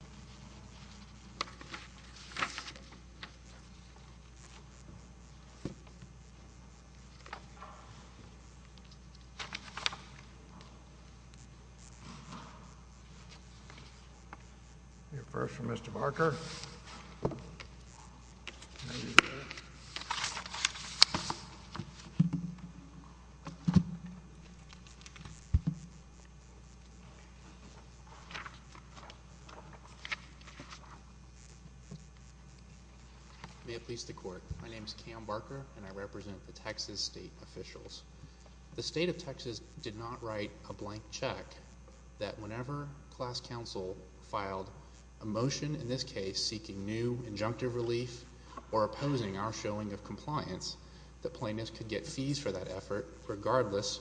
. e. Actually the court and I represent Texas state officials The state of Texas did not write a blank check that whenever class counsel filed a motion in this case seeking new injunctive relief or opposing our showing of compliance, the plaintiffs could get fees for that effort regardless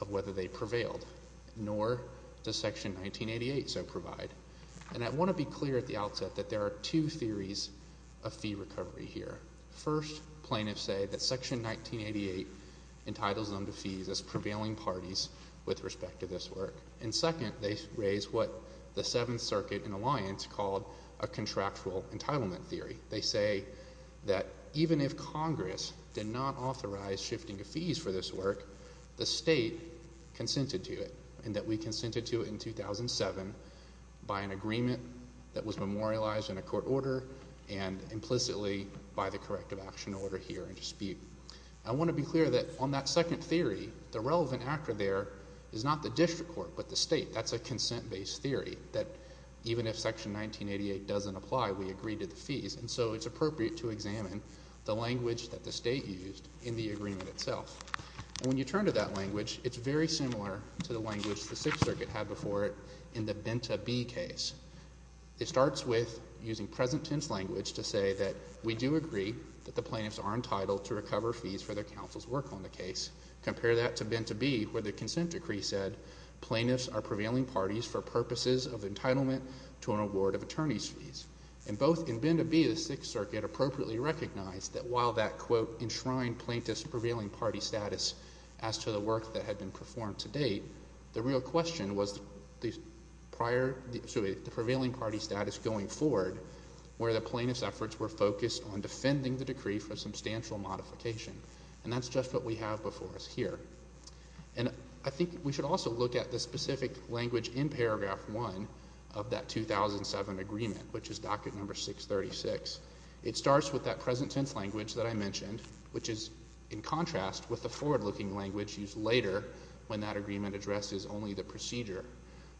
of whether they prevailed, nor does section 1988 so provide. And I want to be clear at the outset that there are two theories of fee recovery here. First, plaintiffs say that section 1988 entitles them to fees as prevailing parties with respect to this work. And second, they raise what the seventh circuit in alliance called a contractual entitlement theory. They say that even if Congress did not authorize shifting of fees for this work, the state consented to it and that we consented to it in 2007 by an agreement that was memorialized in a court order and implicitly by the corrective action order here in dispute. I want to be clear that on that second theory, the relevant actor there is not the district court but the state. That's a consent-based theory that even if section 1988 doesn't apply, we agree to the fees. And so it's appropriate to examine the language that the state used in the agreement itself. And when you turn to that language, it's very similar to the language the sixth circuit had before it in the Benta B case. It starts with using present tense language to say that we do agree that the plaintiffs are entitled to recover fees for their counsel's work on the case. Compare that to Benta B where the consent decree said plaintiffs are prevailing parties for purposes of entitlement to an award of attorney's fees. And both in Benta B, the sixth circuit appropriately recognized that while that, quote, enshrined plaintiffs' prevailing party status as to the work that had been performed to date, the real question was the prevailing party status going forward where the plaintiffs' efforts were focused on defending the decree for substantial modification. And that's just what we have before us here. And I think we should also look at the specific language in paragraph one of that 2007 agreement, which is docket number 636. It starts with that present tense language that I mentioned, which is in contrast with the forward-looking language used later when that agreement addresses only the procedure.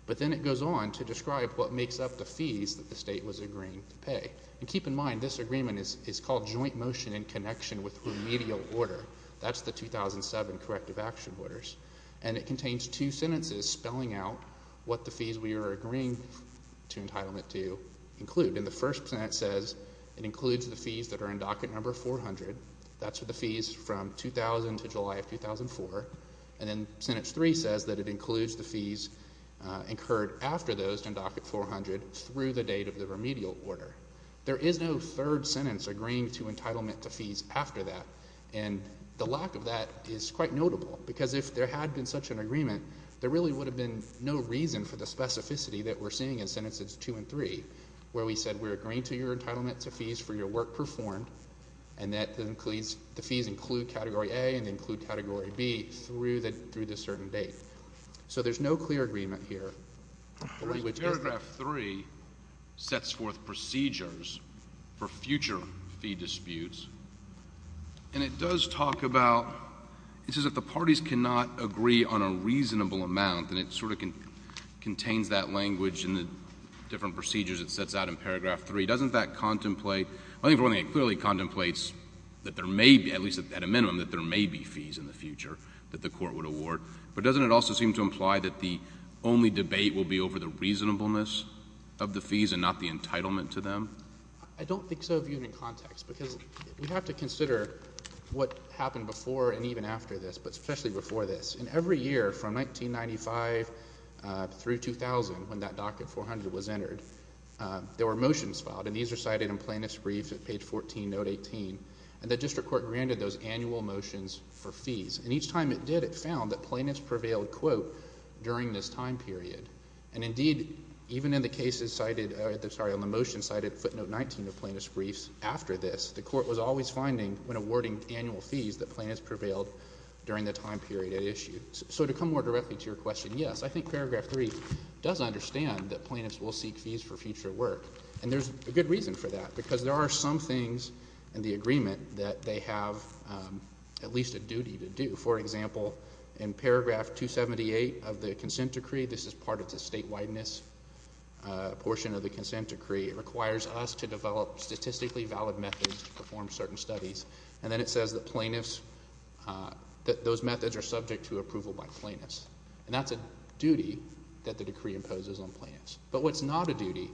But then it goes on to describe what makes up the fees that the state was agreeing to pay. And keep in mind, this agreement is called joint motion in connection with remedial order. That's the 2007 corrective action orders. And it contains two sentences spelling out what the fees we are agreeing to entitlement to include. And the first sentence says it includes the fees that are in docket number 400. That's for the fees from 2000 to July of 2004. And then sentence three says that it includes the fees incurred after those in docket 400 through the date of the remedial order. There is no third sentence agreeing to entitlement to fees after that. And the lack of that is quite notable. Because if there had been such an agreement, there really would have been no reason for the specificity that we're seeing in sentences two and three, where we said we're agreeing to your entitlement to fees for your work performed. And that the fees include category A and include category B through the certain date. So there's no clear agreement here. Paragraph three sets forth procedures for future fee disputes. And it does talk about, it says if the parties cannot agree on a reasonable amount, and it doesn't back contemplate. I think it clearly contemplates that there may be, at least at a minimum, that there may be fees in the future that the court would award. But doesn't it also seem to imply that the only debate will be over the reasonableness of the fees and not the entitlement to them? I don't think so, viewed in context, because we have to consider what happened before and even after this, but especially before this. In every year from 1995 through 2000, when that docket 400 was entered, there were motions filed. And these are cited in plaintiff's brief at page 14, note 18. And the district court granted those annual motions for fees. And each time it did, it found that plaintiffs prevailed, quote, during this time period. And indeed, even in the cases cited, sorry, on the motions cited footnote 19 of plaintiff's briefs after this, the court was always finding, when awarding annual fees, that plaintiffs prevailed during the time period it issued. So to come more directly to your question, yes, I think paragraph three does understand that plaintiffs will seek fees for future work. And there's a good reason for that, because there are some things in the agreement that they have at least a duty to do. For example, in paragraph 278 of the consent decree, this is part of the statewide-ness portion of the consent decree, it requires us to develop statistically valid methods to perform certain studies. And then it says that plaintiffs, that those methods are subject to approval by plaintiffs. And that's a duty that the decree imposes on plaintiffs. But what's not a duty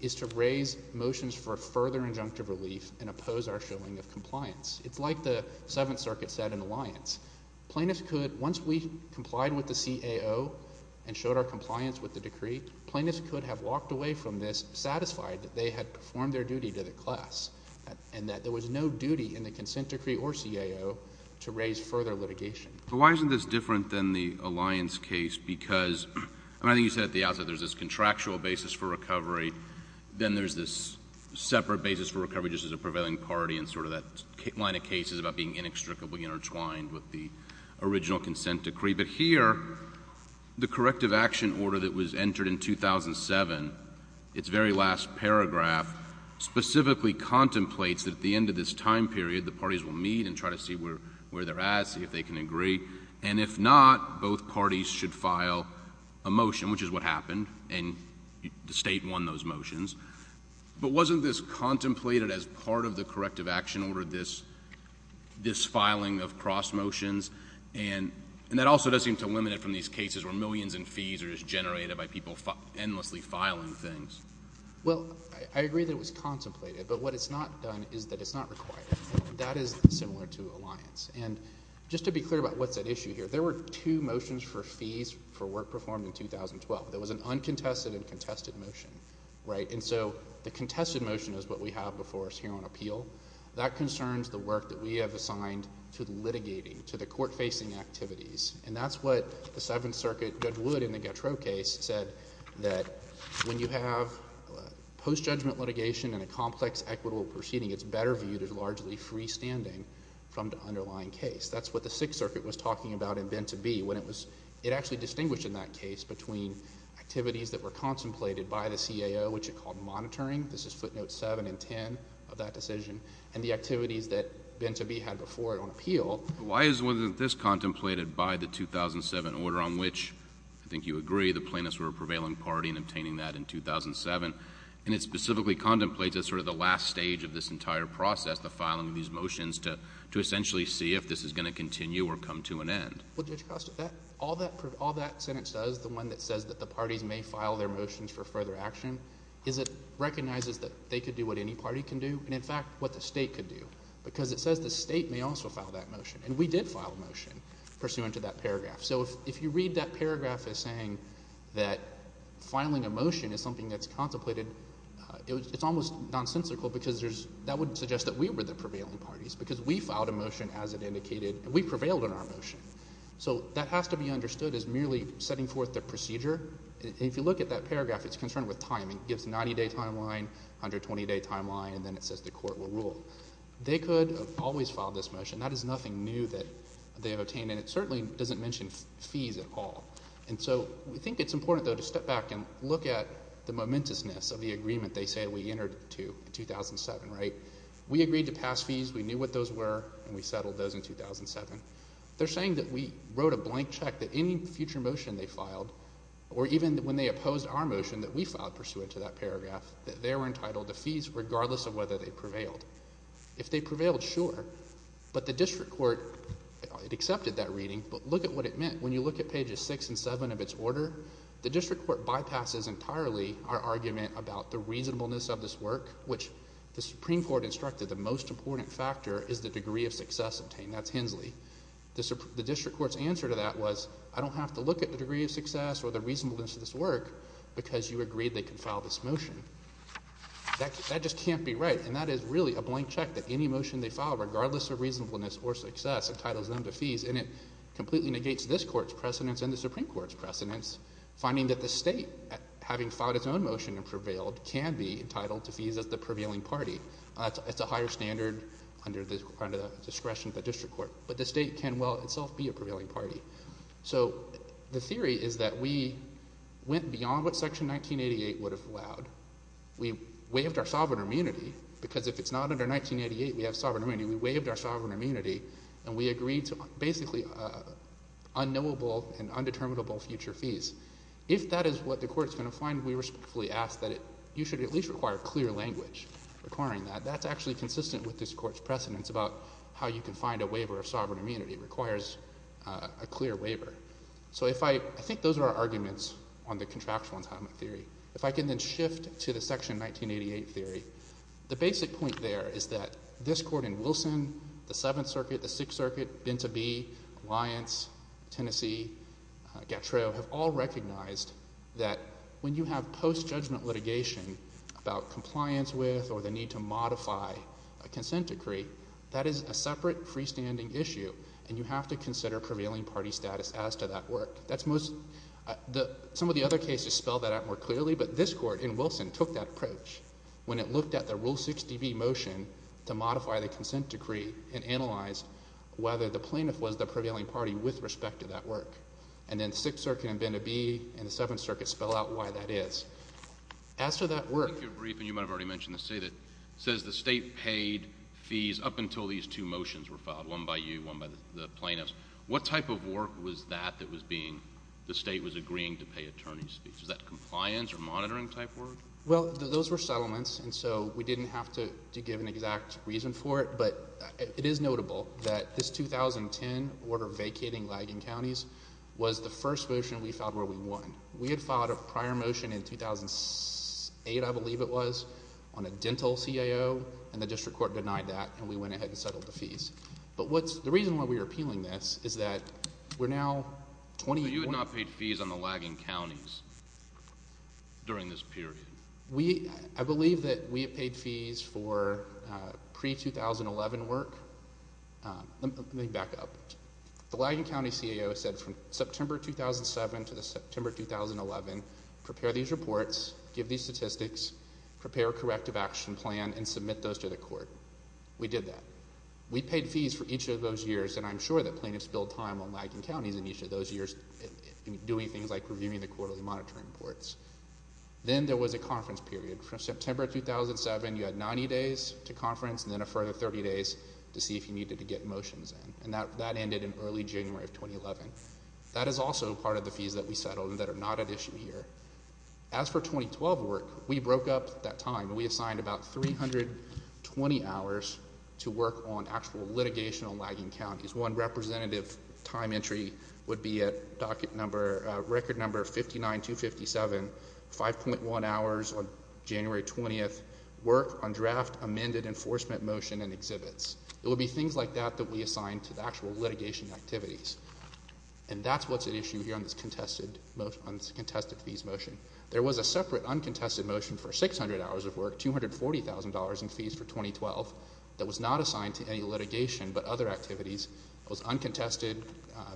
is to raise motions for further injunctive relief and oppose our showing of compliance. It's like the Seventh Circuit said in Alliance. Plaintiffs could, once we complied with the CAO and showed our compliance with the decree, plaintiffs could have walked away from this satisfied that they had performed their duty to the class, and that there was no duty in the consent decree or CAO to raise further litigation. But why isn't this different than the Alliance case? Because, and I think you said at the outset, there's this contractual basis for recovery. Then there's this separate basis for recovery just as a prevailing party and sort of that line of cases about being inextricably intertwined with the original consent decree. But here, the corrective action order that was entered in 2007, its very last paragraph, specifically contemplates that at the end of this time period, the parties will meet and try to see where they're at, see if they can agree. And if not, both parties should file a motion, which is what happened, and the state won those motions. But wasn't this contemplated as part of the corrective action order, this filing of cross-motions? And that also does seem to limit it from these cases where millions in fees are just generated by people endlessly filing things. Well, I agree that it was contemplated, but what it's not done is that it's not required. That is similar to Alliance. And just to be clear about what's at issue here, there were two motions for fees for work performed in 2012. There was an uncontested and contested motion, right? And so the contested motion is what we have before us here on appeal. That concerns the work that we have assigned to the litigating, to the court-facing activities. And that's what the Seventh Circuit Judge Wood in the Gautreaux case said, that when you have post-judgment litigation and a complex equitable proceeding, it's better viewed as largely freestanding from the underlying case. That's what the Sixth Circuit was talking about in Ben-To-Be when it was, it actually distinguished in that case between activities that were contemplated by the CAO, which it called monitoring, this is footnotes 7 and 10 of that decision, and the activities that Ben-To-Be had before it on appeal. Why isn't this contemplated by the 2007 order on which, I think you agree, the plaintiffs were a prevailing party in obtaining that in 2007, and it specifically contemplates as sort of the last stage of this entire process, the filing of these motions to essentially see if this is going to continue or come to an end? Well, Judge Costa, all that sentence does, the one that says that the parties may file their motions for further action, is it recognizes that they could do what any party can do and, in fact, what the state could do. Because it says the state may also file that motion, and we did file a motion pursuant to that paragraph. So if you read that paragraph as saying that filing a motion is something that's contemplated, it's almost nonsensical because that would suggest that we were the prevailing parties because we filed a motion as it indicated, and we prevailed in our motion. So that has to be understood as merely setting forth the procedure. If you look at that paragraph, it's concerned with timing. It gives a 90-day timeline, 120-day timeline, and then it says the court will rule. They could have always filed this motion. That is nothing new that they have obtained, and it certainly doesn't mention fees at all. And so we think it's important, though, to step back and look at the momentousness of the agreement they say we entered to in 2007, right? We agreed to pass fees. We knew what those were, and we settled those in 2007. They're saying that we wrote a blank check that any future motion they filed, or even when they opposed our motion that we filed pursuant to that paragraph, that they were entitled to fees regardless of whether they prevailed. If they prevailed, sure, but the district court, it accepted that reading, but look at what it meant. When you look at pages 6 and 7 of its order, the district court bypasses entirely our argument about the reasonableness of this work, which the Supreme Court instructed the most important factor is the degree of success obtained. That's Hensley. The district court's answer to that was, I don't have to look at the degree of success or the reasonableness of this work because you agreed they could file this motion. That just can't be right, and that is really a blank check that any motion they filed, regardless of reasonableness or success, entitles them to fees, and it completely negates this court's precedence and the Supreme Court's precedence, finding that the state, having filed its own motion and prevailed, can be entitled to fees as the prevailing party. It's a higher standard under the discretion of the district court, but the state can well itself be a prevailing party. So the theory is that we went beyond what Section 1988 would have allowed. We waived our sovereign immunity because if it's not under 1988, we have sovereign immunity. We waived our sovereign immunity, and we agreed to basically unknowable and undeterminable future fees. If that is what the court's going to find, we respectfully ask that you should at least require clear language requiring that. That's actually consistent with this court's precedence about how you can find a waiver of sovereign immunity. It requires a clear waiver. So if I—I think those are our arguments on the contractual entitlement theory. If I can then shift to the Section 1988 theory, the basic point there is that this court in Wilson, the Seventh Circuit, the Sixth Circuit, Binta Bee, Lyons, Tennessee, Gatreau have all recognized that when you have post-judgment litigation about compliance with or the need to modify a consent decree, that is a separate freestanding issue, and you have to consider prevailing party status as to that work. That's most—some of the other cases spell that out more clearly, but this court in Wilson took that approach when it looked at the Rule 60B motion to modify the consent decree and analyzed whether the plaintiff was the prevailing party with respect to that work. And then Sixth Circuit and Binta Bee and the Seventh Circuit spell out why that is. As to that work— If you're brief, and you might have already mentioned this, it says the state paid fees up until these two motions were filed, one by you, one by the plaintiffs. What type of work was that that was being—the state was agreeing to pay attorney's fees? Was that compliance or monitoring type work? Well, those were settlements, and so we didn't have to give an exact reason for it, but it is notable that this 2010 order vacating Laggan Counties was the first motion we filed where we won. We had filed a prior motion in 2008, I believe it was, on a dental CAO, and the district court denied that, and we went ahead and settled the fees. But what's—the reason why we're appealing this is that we're now— So you had not paid fees on the Laggan Counties during this period? We—I believe that we had paid fees for pre-2011 work. Let me back up. The Laggan County CAO said from September 2007 to September 2011, prepare these reports, give these statistics, prepare a corrective action plan, and submit those to the court. We did that. We paid fees for each of those years, and I'm sure the plaintiffs billed time on Laggan County for those years, doing things like reviewing the quarterly monitoring reports. Then there was a conference period. From September 2007, you had 90 days to conference, and then a further 30 days to see if you needed to get motions in, and that ended in early January of 2011. That is also part of the fees that we settled that are not at issue here. As for 2012 work, we broke up that time. We assigned about 320 hours to work on actual litigation on Laggan Counties. One representative time entry would be at docket number—record number 59257, 5.1 hours on January 20th, work on draft amended enforcement motion and exhibits. It would be things like that that we assigned to the actual litigation activities. And that's what's at issue here on this contested—contested fees motion. There was a separate uncontested motion for 600 hours of work, $240,000 in fees for 2012, that was not assigned to any litigation but other activities. It was uncontested.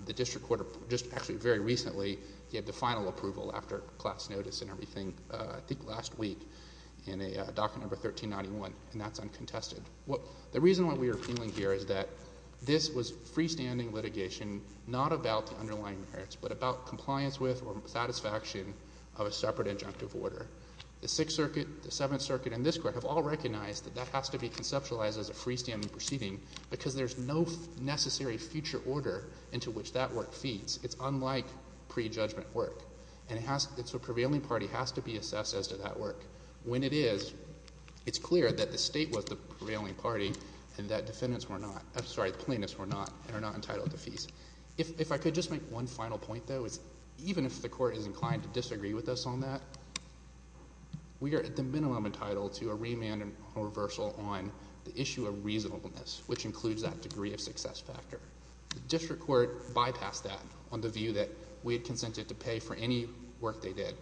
The district court just actually very recently gave the final approval after class notice and everything, I think last week, in a docket number 1391, and that's uncontested. The reason why we are appealing here is that this was freestanding litigation, not about the underlying merits, but about compliance with or satisfaction of a separate injunctive order. The Sixth Circuit, the Seventh Circuit, and this court have all recognized that that has to be conceptualized as a freestanding proceeding because there's no necessary future order into which that work feeds. It's unlike pre-judgment work, and it has—it's a prevailing party has to be assessed as to that work. When it is, it's clear that the state was the prevailing party and that defendants were not—I'm sorry, plaintiffs were not, and are not entitled to fees. If I could just make one final point, though, it's even if the court is inclined to disagree with us on that, we are at the minimum entitled to a remand or reversal on the issue of reasonableness, which includes that degree of success factor. The district court bypassed that on the view that we had consented to pay for any work they did.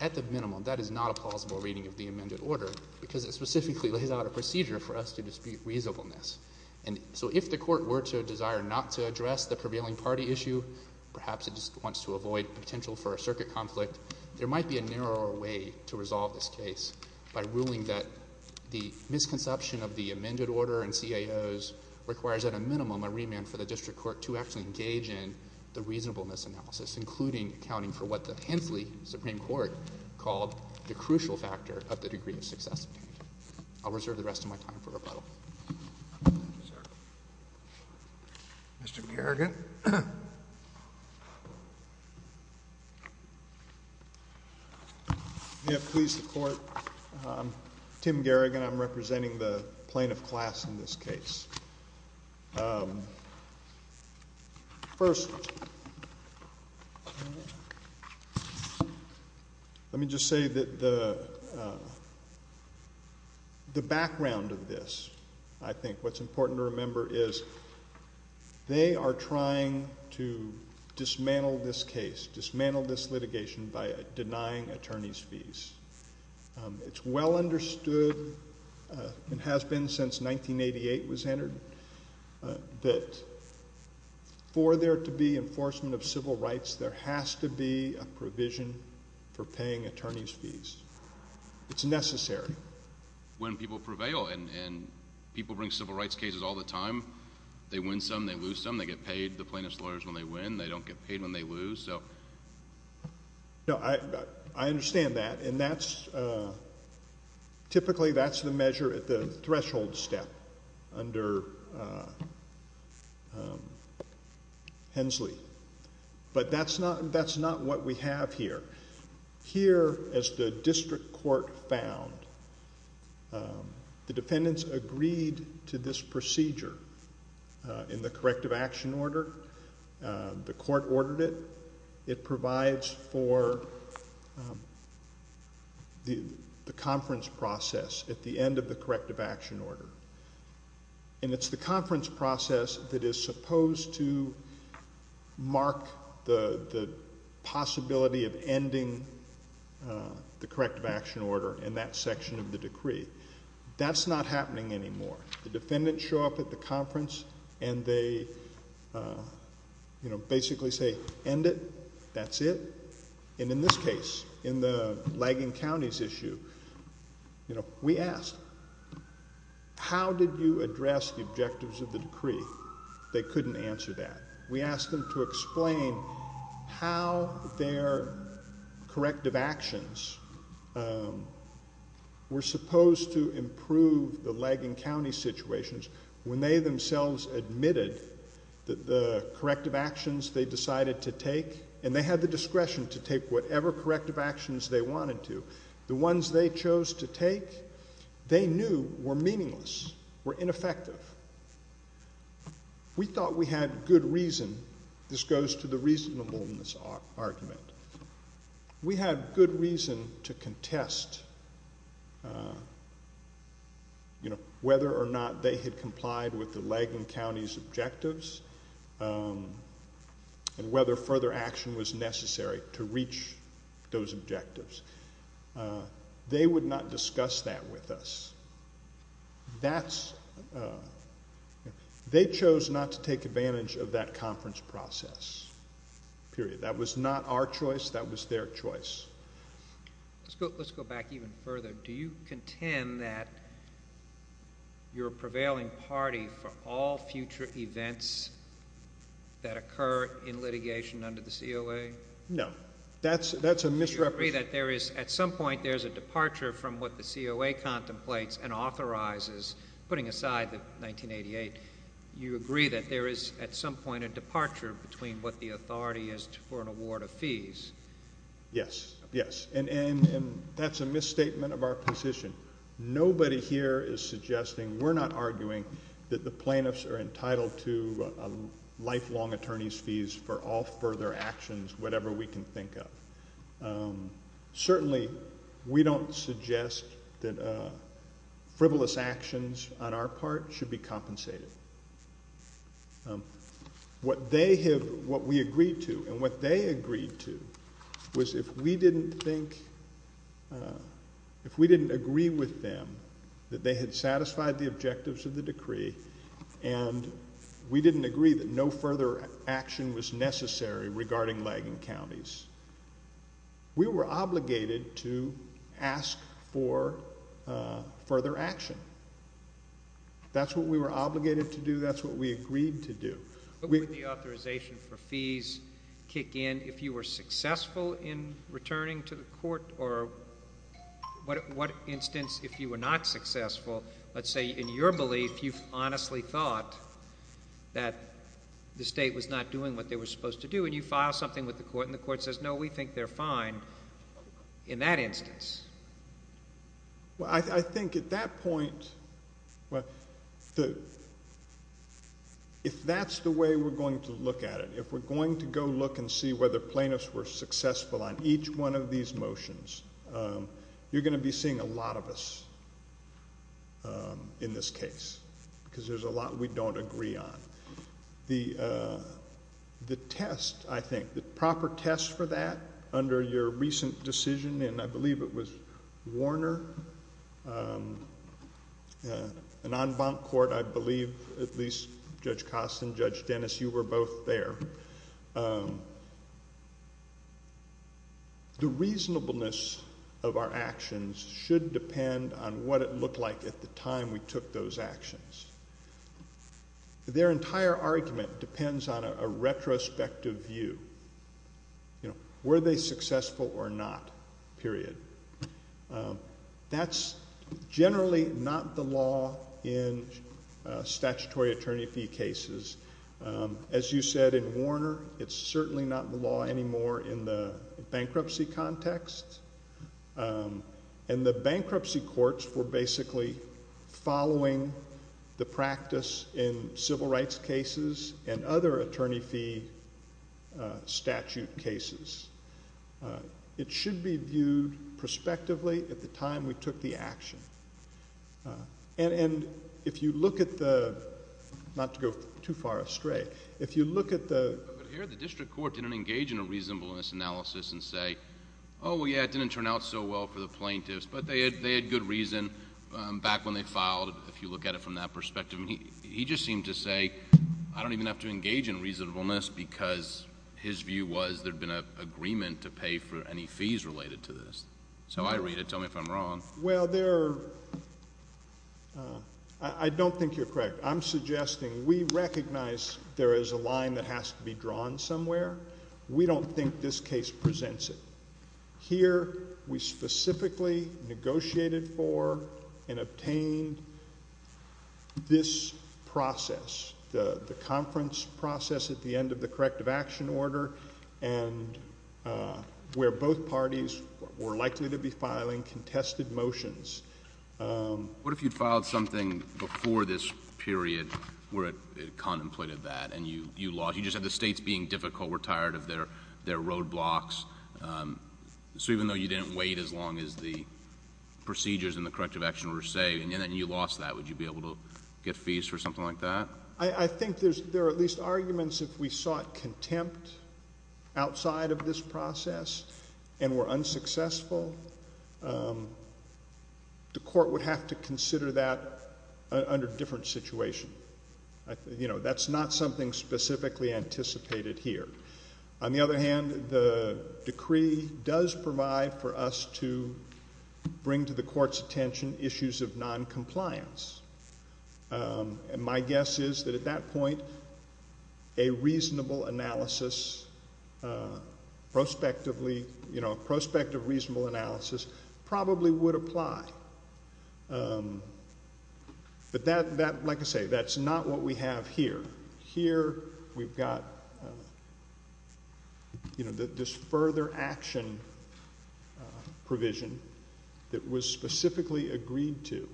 At the minimum, that is not a plausible reading of the amended order because it specifically lays out a procedure for us to dispute reasonableness. And so if the court were to desire not to address the prevailing party issue, perhaps it just wants to avoid potential for a circuit conflict, there might be a narrower way to resolve this case by ruling that the misconception of the amended order and CIOs requires at a minimum a remand for the district court to actually engage in the reasonableness analysis, including accounting for what the Hensley Supreme Court called the crucial factor of the degree of success. I'll reserve the rest of my time for rebuttal. Mr. Gerrigan? May it please the court, I'm Tim Gerrigan. I'm representing the plaintiff class in this case. First, let me just say that the background of this, I think, what's important to remember is they are trying to dismantle this case, dismantle this litigation by denying attorney's fees. It's well understood, and has been since 1988 was entered, that for there to be enforcement of civil rights, there has to be a provision for paying attorney's fees. It's necessary. When people prevail, and people bring civil rights cases all the time. They win some, they lose some. They get paid, the plaintiff's lawyers, when they win. They don't get paid when they lose. I understand that. Typically, that's the measure at the threshold step under Hensley, but that's not what we have here. Here, as the district court found, the defendants agreed to this procedure in the corrective action order. The court ordered it. It provides for the conference process at the end of the corrective action order. It's the conference process that is supposed to mark the possibility of ending the corrective action order in that section of the decree. That's not happening anymore. The defendants show up at the conference, and they basically say, end it. That's it. In this case, in the Laggan County's issue, we asked, how did you address the objectives of the decree? They couldn't answer that. We asked them to explain how their corrective actions were supposed to improve the Laggan County situations. When they themselves admitted that the corrective actions they decided to take, and they had the discretion to take whatever corrective actions they wanted to, the ones they chose to take they knew were meaningless, were ineffective. We thought we had good reason. This goes to the reasonableness argument. We had good reason to contest whether or not they had complied with the Laggan County's objectives and whether further action was necessary to reach those objectives. They would not discuss that with us. They chose not to take advantage of that conference process. Period. That was not our choice. That was their choice. Let's go back even further. Do you contend that you're a prevailing party for all future events that occur in litigation under the COA? No. That's a misrepresentation. Do you agree that at some point there's a departure from what the COA contemplates and authorizes, putting aside the 1988? You agree that there is at some point a departure between what the authority is for an award of fees? Yes. Yes. And that's a misstatement of our position. Nobody here is suggesting, we're not arguing, that the plaintiffs are entitled to lifelong attorney's fees for all further actions, whatever we can think of. Certainly we don't suggest that frivolous actions on our part should be compensated. What we agreed to and what they agreed to was if we didn't think, if we didn't agree with them that they had satisfied the objectives of the decree and we didn't agree that no we were obligated to ask for further action. That's what we were obligated to do. That's what we agreed to do. But would the authorization for fees kick in if you were successful in returning to the court or what instance if you were not successful, let's say in your belief you've honestly thought that the state was not doing what they were supposed to do and you file something with the court and the court says, no, we think they're fine in that instance? Well, I think at that point, if that's the way we're going to look at it, if we're going to go look and see whether plaintiffs were successful on each one of these motions, you're going to be seeing a lot of us in this case because there's a lot we don't agree on. The test, I think, the proper test for that under your recent decision, and I believe it was Warner, an en banc court, I believe at least Judge Costin, Judge Dennis, you were both there, the reasonableness of our actions should depend on what it looked like at the time we took those actions. Their entire argument depends on a retrospective view. Were they successful or not, period? That's generally not the law in statutory attorney fee cases. As you said in Warner, it's certainly not the law anymore in the bankruptcy context, and the bankruptcy courts were basically following the practice in civil rights cases and other attorney fee statute cases. It should be viewed prospectively at the time we took the action, and if you look at the, not to go too far astray, if you look at the... Well, yeah, it didn't turn out so well for the plaintiffs, but they had good reason back when they filed, if you look at it from that perspective. He just seemed to say, I don't even have to engage in reasonableness because his view was there'd been an agreement to pay for any fees related to this. So I read it. Tell me if I'm wrong. Well, there... I don't think you're correct. I'm suggesting we recognize there is a line that has to be drawn somewhere. We don't think this case presents it. Here, we specifically negotiated for and obtained this process, the conference process at the end of the corrective action order, and where both parties were likely to be filing contested motions. What if you'd filed something before this period where it contemplated that, and you lost... you just had the states being difficult, were tired of their roadblocks. So even though you didn't wait as long as the procedures in the corrective action order say, and then you lost that, would you be able to get fees for something like that? I think there are at least arguments if we sought contempt outside of this process and were unsuccessful, the court would have to consider that under a different situation. You know, that's not something specifically anticipated here. On the other hand, the decree does provide for us to bring to the court's attention issues of noncompliance. And my guess is that at that point, a reasonable analysis, prospectively... you know, a prospect of reasonable analysis probably would apply. But that, like I say, that's not what we have here. Here, we've got, you know, this further action provision that was specifically agreed to.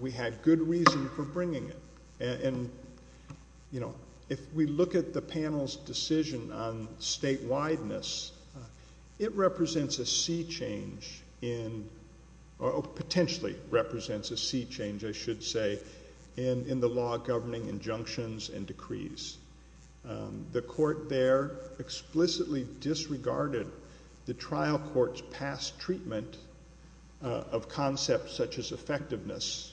We had good reason for bringing it. And, you know, if we look at the panel's decision on statewideness, it represents a sea change in... or potentially represents a sea change, I should say, in the law governing injunctions and decrees. The court there explicitly disregarded the trial court's past treatment of concepts such as effectiveness,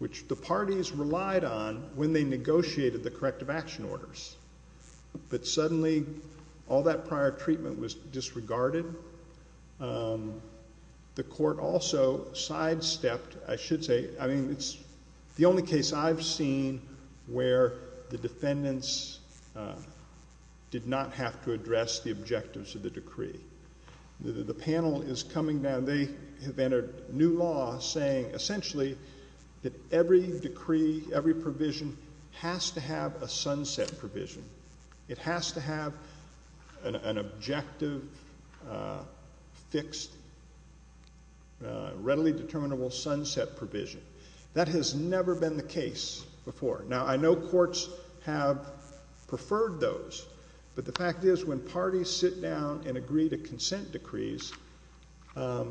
which the parties relied on when they negotiated the corrective action orders. But suddenly, all that prior treatment was disregarded. The court also sidestepped, I should say... I mean, it's the only case I've seen where the defendants did not have to address the objectives of the decree. The panel is coming down. And they have entered new law saying, essentially, that every decree, every provision, has to have a sunset provision. It has to have an objective, fixed, readily determinable sunset provision. That has never been the case before. Now, I know courts have preferred those. But the fact is, when parties sit down and agree to consent decrees, they're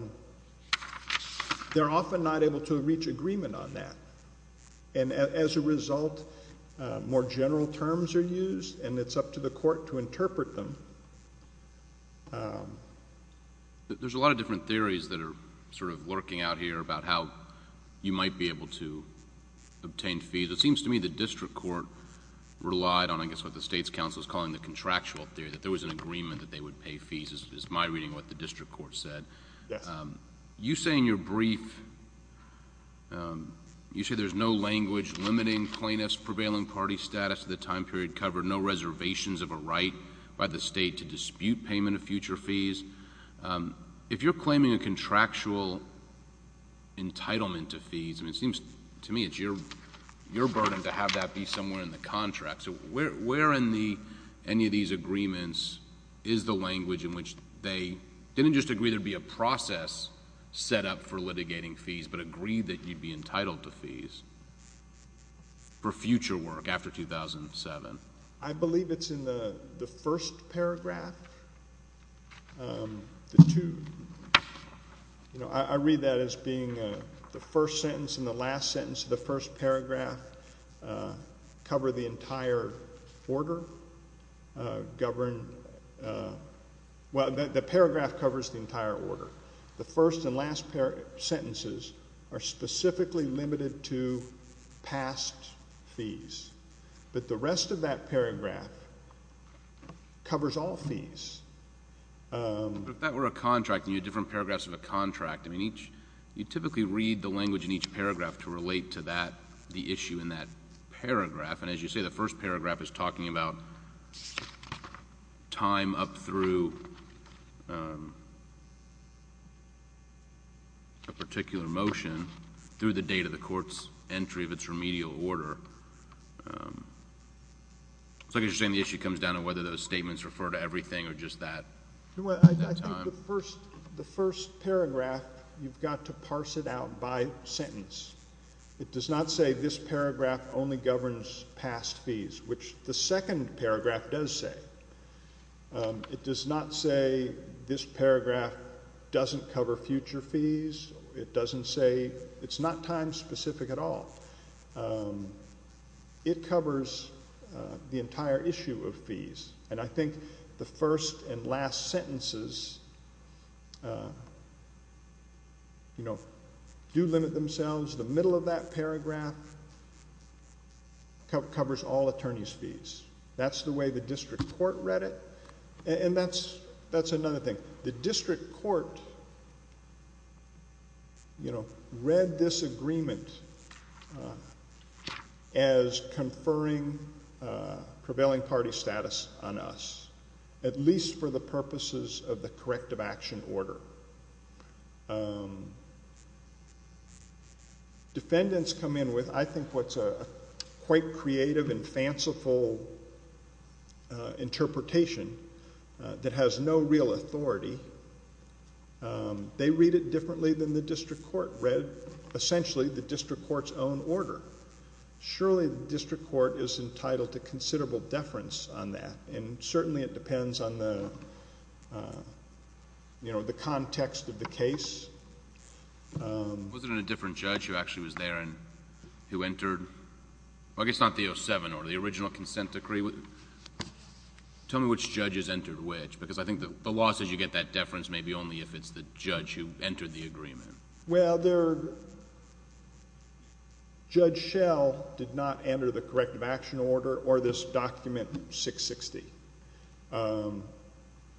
often not able to reach agreement on that. And as a result, more general terms are used, and it's up to the court to interpret them. There's a lot of different theories that are sort of lurking out here about how you might be able to obtain fees. It seems to me the district court relied on, I guess, what the state's counsel is calling the contractual theory, that there was an agreement that they would pay fees, is my reading of what the district court said. Yes. You say in your brief, you say there's no language limiting plaintiff's prevailing party status to the time period covered, no reservations of a right by the state to dispute payment of future fees. I mean, it seems to me it's your burden to have that be somewhere in the contract. So where in any of these agreements is the language in which they didn't just agree there'd be a process set up for litigating fees, but agreed that you'd be entitled to fees for future work after 2007? I believe it's in the first paragraph. The two, you know, I read that as being the first sentence and the last sentence of the first paragraph cover the entire order, govern, well, the paragraph covers the entire order. The first and last sentences are specifically limited to past fees. But the rest of that paragraph covers all fees. But if that were a contract and you had different paragraphs of a contract, I mean, you typically read the language in each paragraph to relate to that, the issue in that paragraph. And as you say, the first paragraph is talking about time up through a particular motion through the date of the court's entry of its remedial order. It's like you're saying the issue comes down to whether those statements refer to everything or just that time. I think the first paragraph, you've got to parse it out by sentence. It does not say this paragraph only governs past fees, which the second paragraph does say. It does not say this paragraph doesn't cover future fees. It doesn't say it's not time specific at all. And I think the first and last sentences, you know, do limit themselves. The middle of that paragraph covers all attorney's fees. That's the way the district court read it. And that's another thing. The district court, you know, read this agreement as conferring prevailing party status on us, at least for the purposes of the corrective action order. Defendants come in with, I think, what's a quite creative and fanciful interpretation that has no real authority. They read it differently than the district court read, essentially, the district court's own order. Surely the district court is entitled to considerable deference on that. And certainly it depends on the, you know, the context of the case. Was it in a different judge who actually was there and who entered? I guess not the 07 order, the original consent decree. Tell me which judges entered which, because I think the law says you get that deference maybe only if it's the judge who entered the agreement. Well, Judge Schell did not enter the corrective action order or this document 660.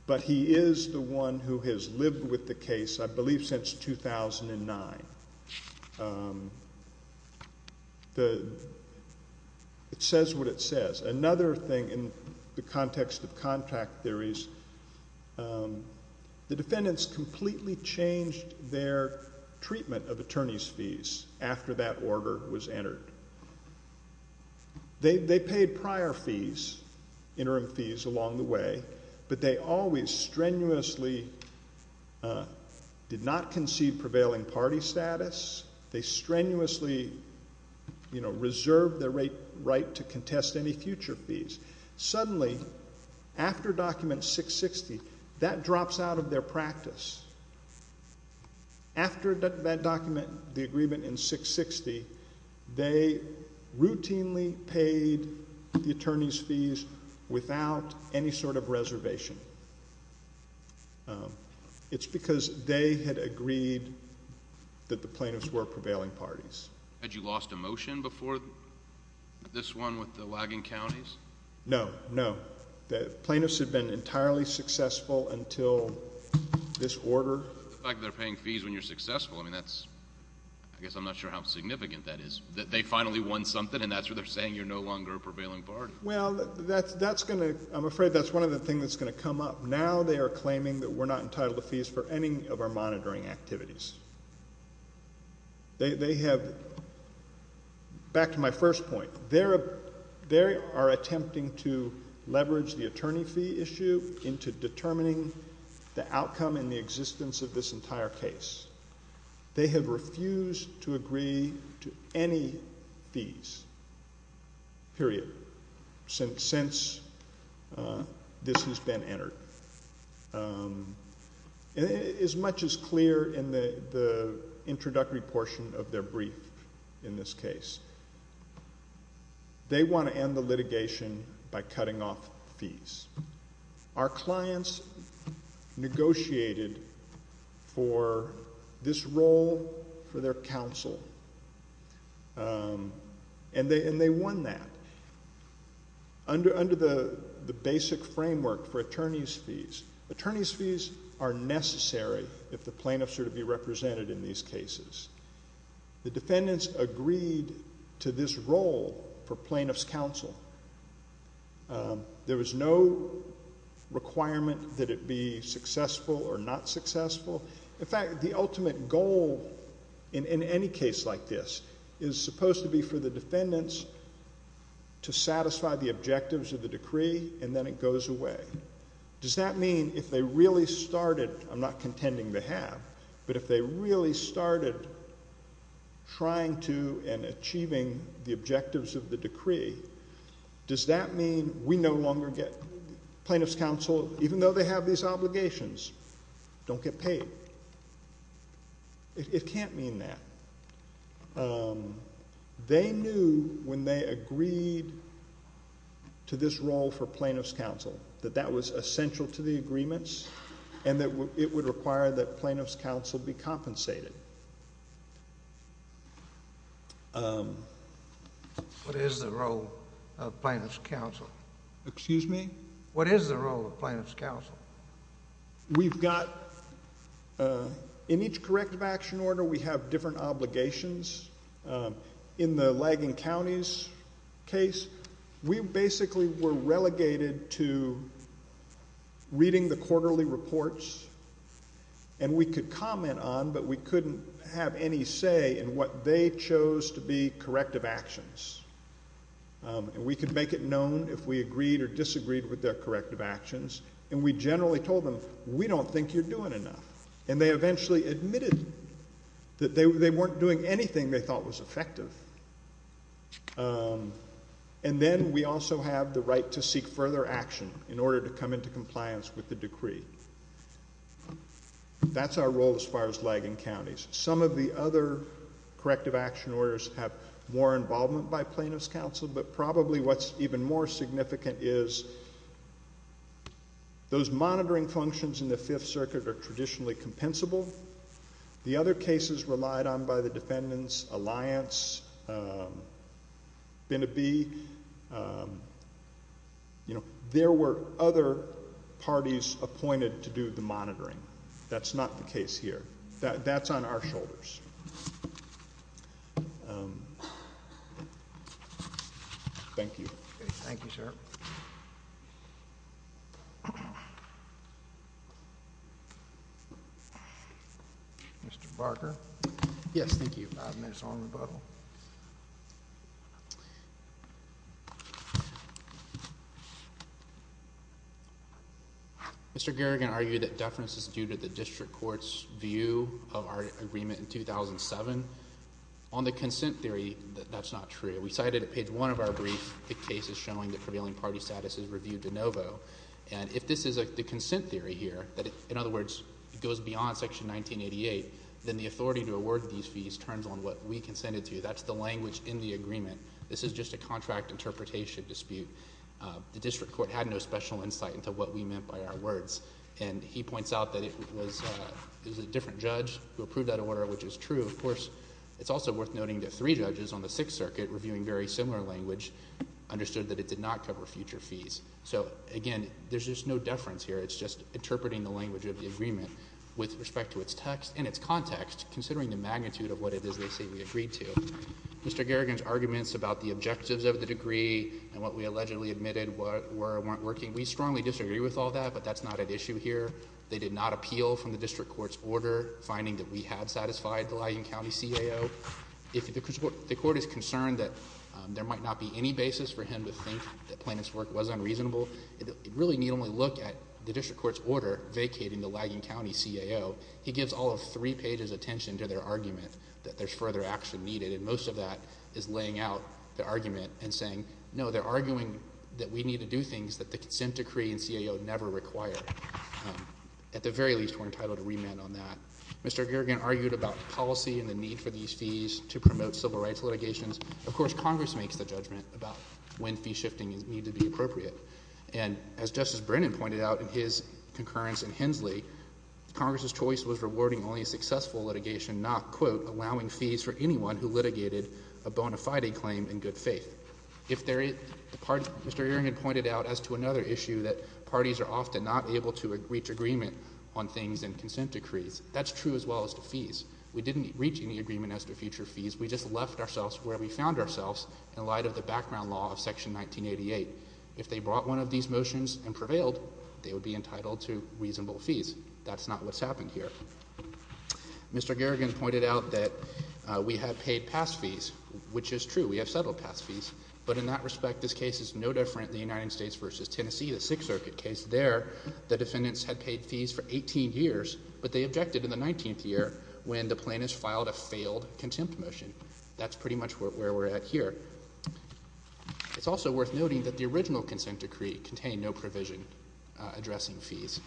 But he is the one who has lived with the case, I believe, since 2009. It says what it says. Another thing in the context of contract theories, the defendants completely changed their treatment of attorney's fees after that order was entered. They paid prior fees, interim fees, along the way. But they always strenuously did not concede prevailing party status. They strenuously, you know, reserved their right to contest any future fees. Suddenly, after document 660, that drops out of their practice. After that document, the agreement in 660, they routinely paid the attorney's fees without any sort of reservation. It's because they had agreed that the plaintiffs were prevailing parties. Had you lost a motion before this one with the lagging counties? No, no. The plaintiffs had been entirely successful until this order. The fact that they're paying fees when you're successful, I mean, that's, I guess I'm not sure how significant that is. They finally won something and that's where they're saying you're no longer a prevailing party. Well, that's going to, I'm afraid that's one of the things that's going to come up. Now they are claiming that we're not entitled to fees for any of our monitoring activities. They have, back to my first point, they are attempting to leverage the attorney fee issue into determining the outcome and the existence of this entire case. They have refused to agree to any fees, period, since this has been entered. As much as clear in the introductory portion of their brief in this case, they want to end the litigation by cutting off fees. Our clients negotiated for this role for their counsel and they won that. Under the basic framework for attorney's fees, attorney's fees are necessary if the plaintiffs are to be represented in these cases. The defendants agreed to this role for plaintiff's counsel. There was no requirement that it be successful or not successful. In fact, the ultimate goal in any case like this is supposed to be for the defendants to satisfy the objectives of the decree and then it goes away. Does that mean if they really started, I'm not contending they have, but if they really started trying to and achieving the objectives of the decree, does that mean we no longer get plaintiff's counsel even though they have these obligations? Don't get paid. It can't mean that. They knew when they agreed to this role for plaintiff's counsel that that was essential to the agreements and that it would require that plaintiff's counsel be compensated. What is the role of plaintiff's counsel? Excuse me? We've got, in each corrective action order, we have different obligations. In the Lagon County's case, we basically were relegated to reading the quarterly reports and we could comment on, but we couldn't have any say in what they chose to be corrective actions. And we could make it known if we agreed or disagreed with their corrective actions, and we generally told them, we don't think you're doing enough. And they eventually admitted that they weren't doing anything they thought was effective. And then we also have the right to seek further action in order to come into compliance with the decree. That's our role as far as Lagon County. Some of the other corrective action orders have more involvement by plaintiff's counsel, but probably what's even more significant is those monitoring functions in the Fifth Circuit are traditionally compensable. The other cases relied on by the defendants, Alliance, Binnabee, you know, there were other parties appointed to do the monitoring. That's not the case here. That's on our shoulders. Thank you. Thank you, sir. Mr. Barker? Yes, thank you. I'll admit it's all in rebuttal. Mr. Garrigan argued that deference is due to the district court's view of our agreement in 2007. On the consent theory, that's not true. We cited at page one of our brief the cases showing that prevailing party status is reviewed de novo. And if this is the consent theory here, in other words, it goes beyond section 1988, then the authority to award these fees turns on what we consented to. That's the language in the agreement. This is just a contract interpretation dispute. The district court had no special insight into what we meant by our words. And he points out that it was a different judge who approved that order, which is true. Of course, it's also worth noting that three judges on the Sixth Circuit reviewing very similar language understood that it did not cover future fees. So, again, there's just no deference here. It's just interpreting the language of the agreement with respect to its text and its context, considering the magnitude of what it is they say we agreed to. Mr. Garrigan's arguments about the objectives of the degree and what we allegedly admitted weren't working, we strongly disagree with all that. But that's not at issue here. They did not appeal from the district court's order, finding that we had satisfied the Lyon County CAO. The court is concerned that there might not be any basis for him to think that Plano's work was unreasonable. It really need only look at the district court's order vacating the Lyon County CAO. He gives all of three pages attention to their argument that there's further action needed, and most of that is laying out the argument and saying, no, they're arguing that we need to do things that the consent decree and CAO never require. At the very least, we're entitled to remand on that. Mr. Garrigan argued about policy and the need for these fees to promote civil rights litigations. Of course, Congress makes the judgment about when fee shifting needs to be appropriate. And as Justice Brennan pointed out in his concurrence in Hensley, Congress's choice was rewarding only successful litigation, not, quote, allowing fees for anyone who litigated a bona fide claim in good faith. Mr. Garrigan pointed out as to another issue that parties are often not able to reach agreement on things in consent decrees. That's true as well as the fees. We didn't reach any agreement as to future fees. We just left ourselves where we found ourselves in light of the background law of Section 1988. If they brought one of these motions and prevailed, they would be entitled to reasonable fees. That's not what's happened here. Mr. Garrigan pointed out that we have paid past fees, which is true. We have settled past fees. But in that respect, this case is no different, the United States v. Tennessee, the Sixth Circuit case there. The defendants had paid fees for 18 years, but they objected in the 19th year when the plaintiffs filed a failed contempt motion. That's pretty much where we're at here. It's also worth noting that the original consent decree contained no provision addressing fees.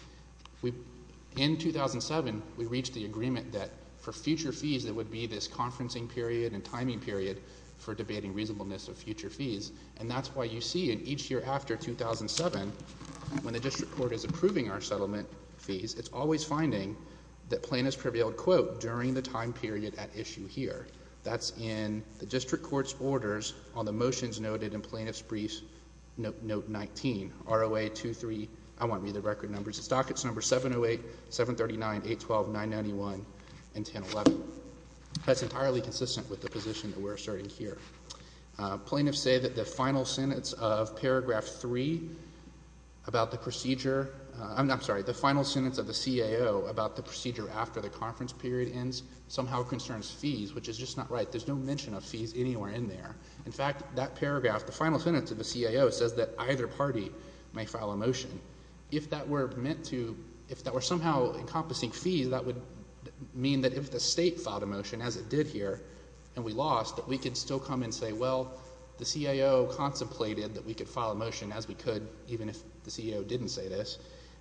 In 2007, we reached the agreement that for future fees, it would be this conferencing period and timing period for debating reasonableness of future fees. And that's why you see in each year after 2007, when the district court is approving our settlement fees, it's always finding that plaintiffs prevailed, quote, during the time period at issue here. That's in the district court's orders on the motions noted in Plaintiff's Brief Note 19. ROA 23, I won't read the record numbers. It's dockets number 708, 739, 812, 991, and 1011. That's entirely consistent with the position that we're asserting here. Plaintiffs say that the final sentence of Paragraph 3 about the procedure, I'm sorry, the final sentence of the CAO about the procedure after the conference period ends somehow concerns fees, which is just not right. There's no mention of fees anywhere in there. In fact, that paragraph, the final sentence of the CAO says that either party may file a motion. If that were meant to – if that were somehow encompassing fees, that would mean that if the state filed a motion as it did here and we lost, that we could still come and say, well, the CAO contemplated that we could file a motion as we could even if the CAO didn't say this,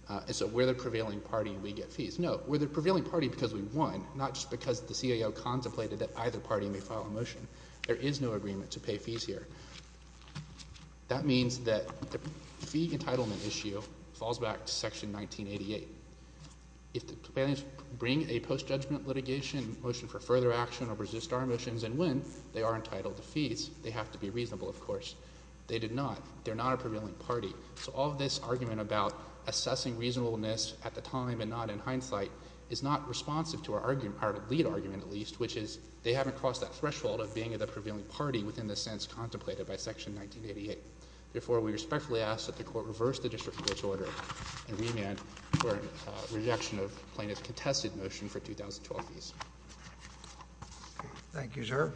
and so we're the prevailing party and we get fees. No, we're the prevailing party because we won, not just because the CAO contemplated that either party may file a motion. There is no agreement to pay fees here. That means that the fee entitlement issue falls back to Section 1988. If the companions bring a post-judgment litigation motion for further action or resist our motions and win, they are entitled to fees. They have to be reasonable, of course. They did not. They're not a prevailing party. So all of this argument about assessing reasonableness at the time and not in hindsight is not responsive to our lead argument, at least, which is they haven't crossed that threshold of being the prevailing party within the sense contemplated by Section 1988. Therefore, we respectfully ask that the court reverse the district court's order and remand for rejection of plaintiff's contested motion for 2012 fees. Thank you, sir.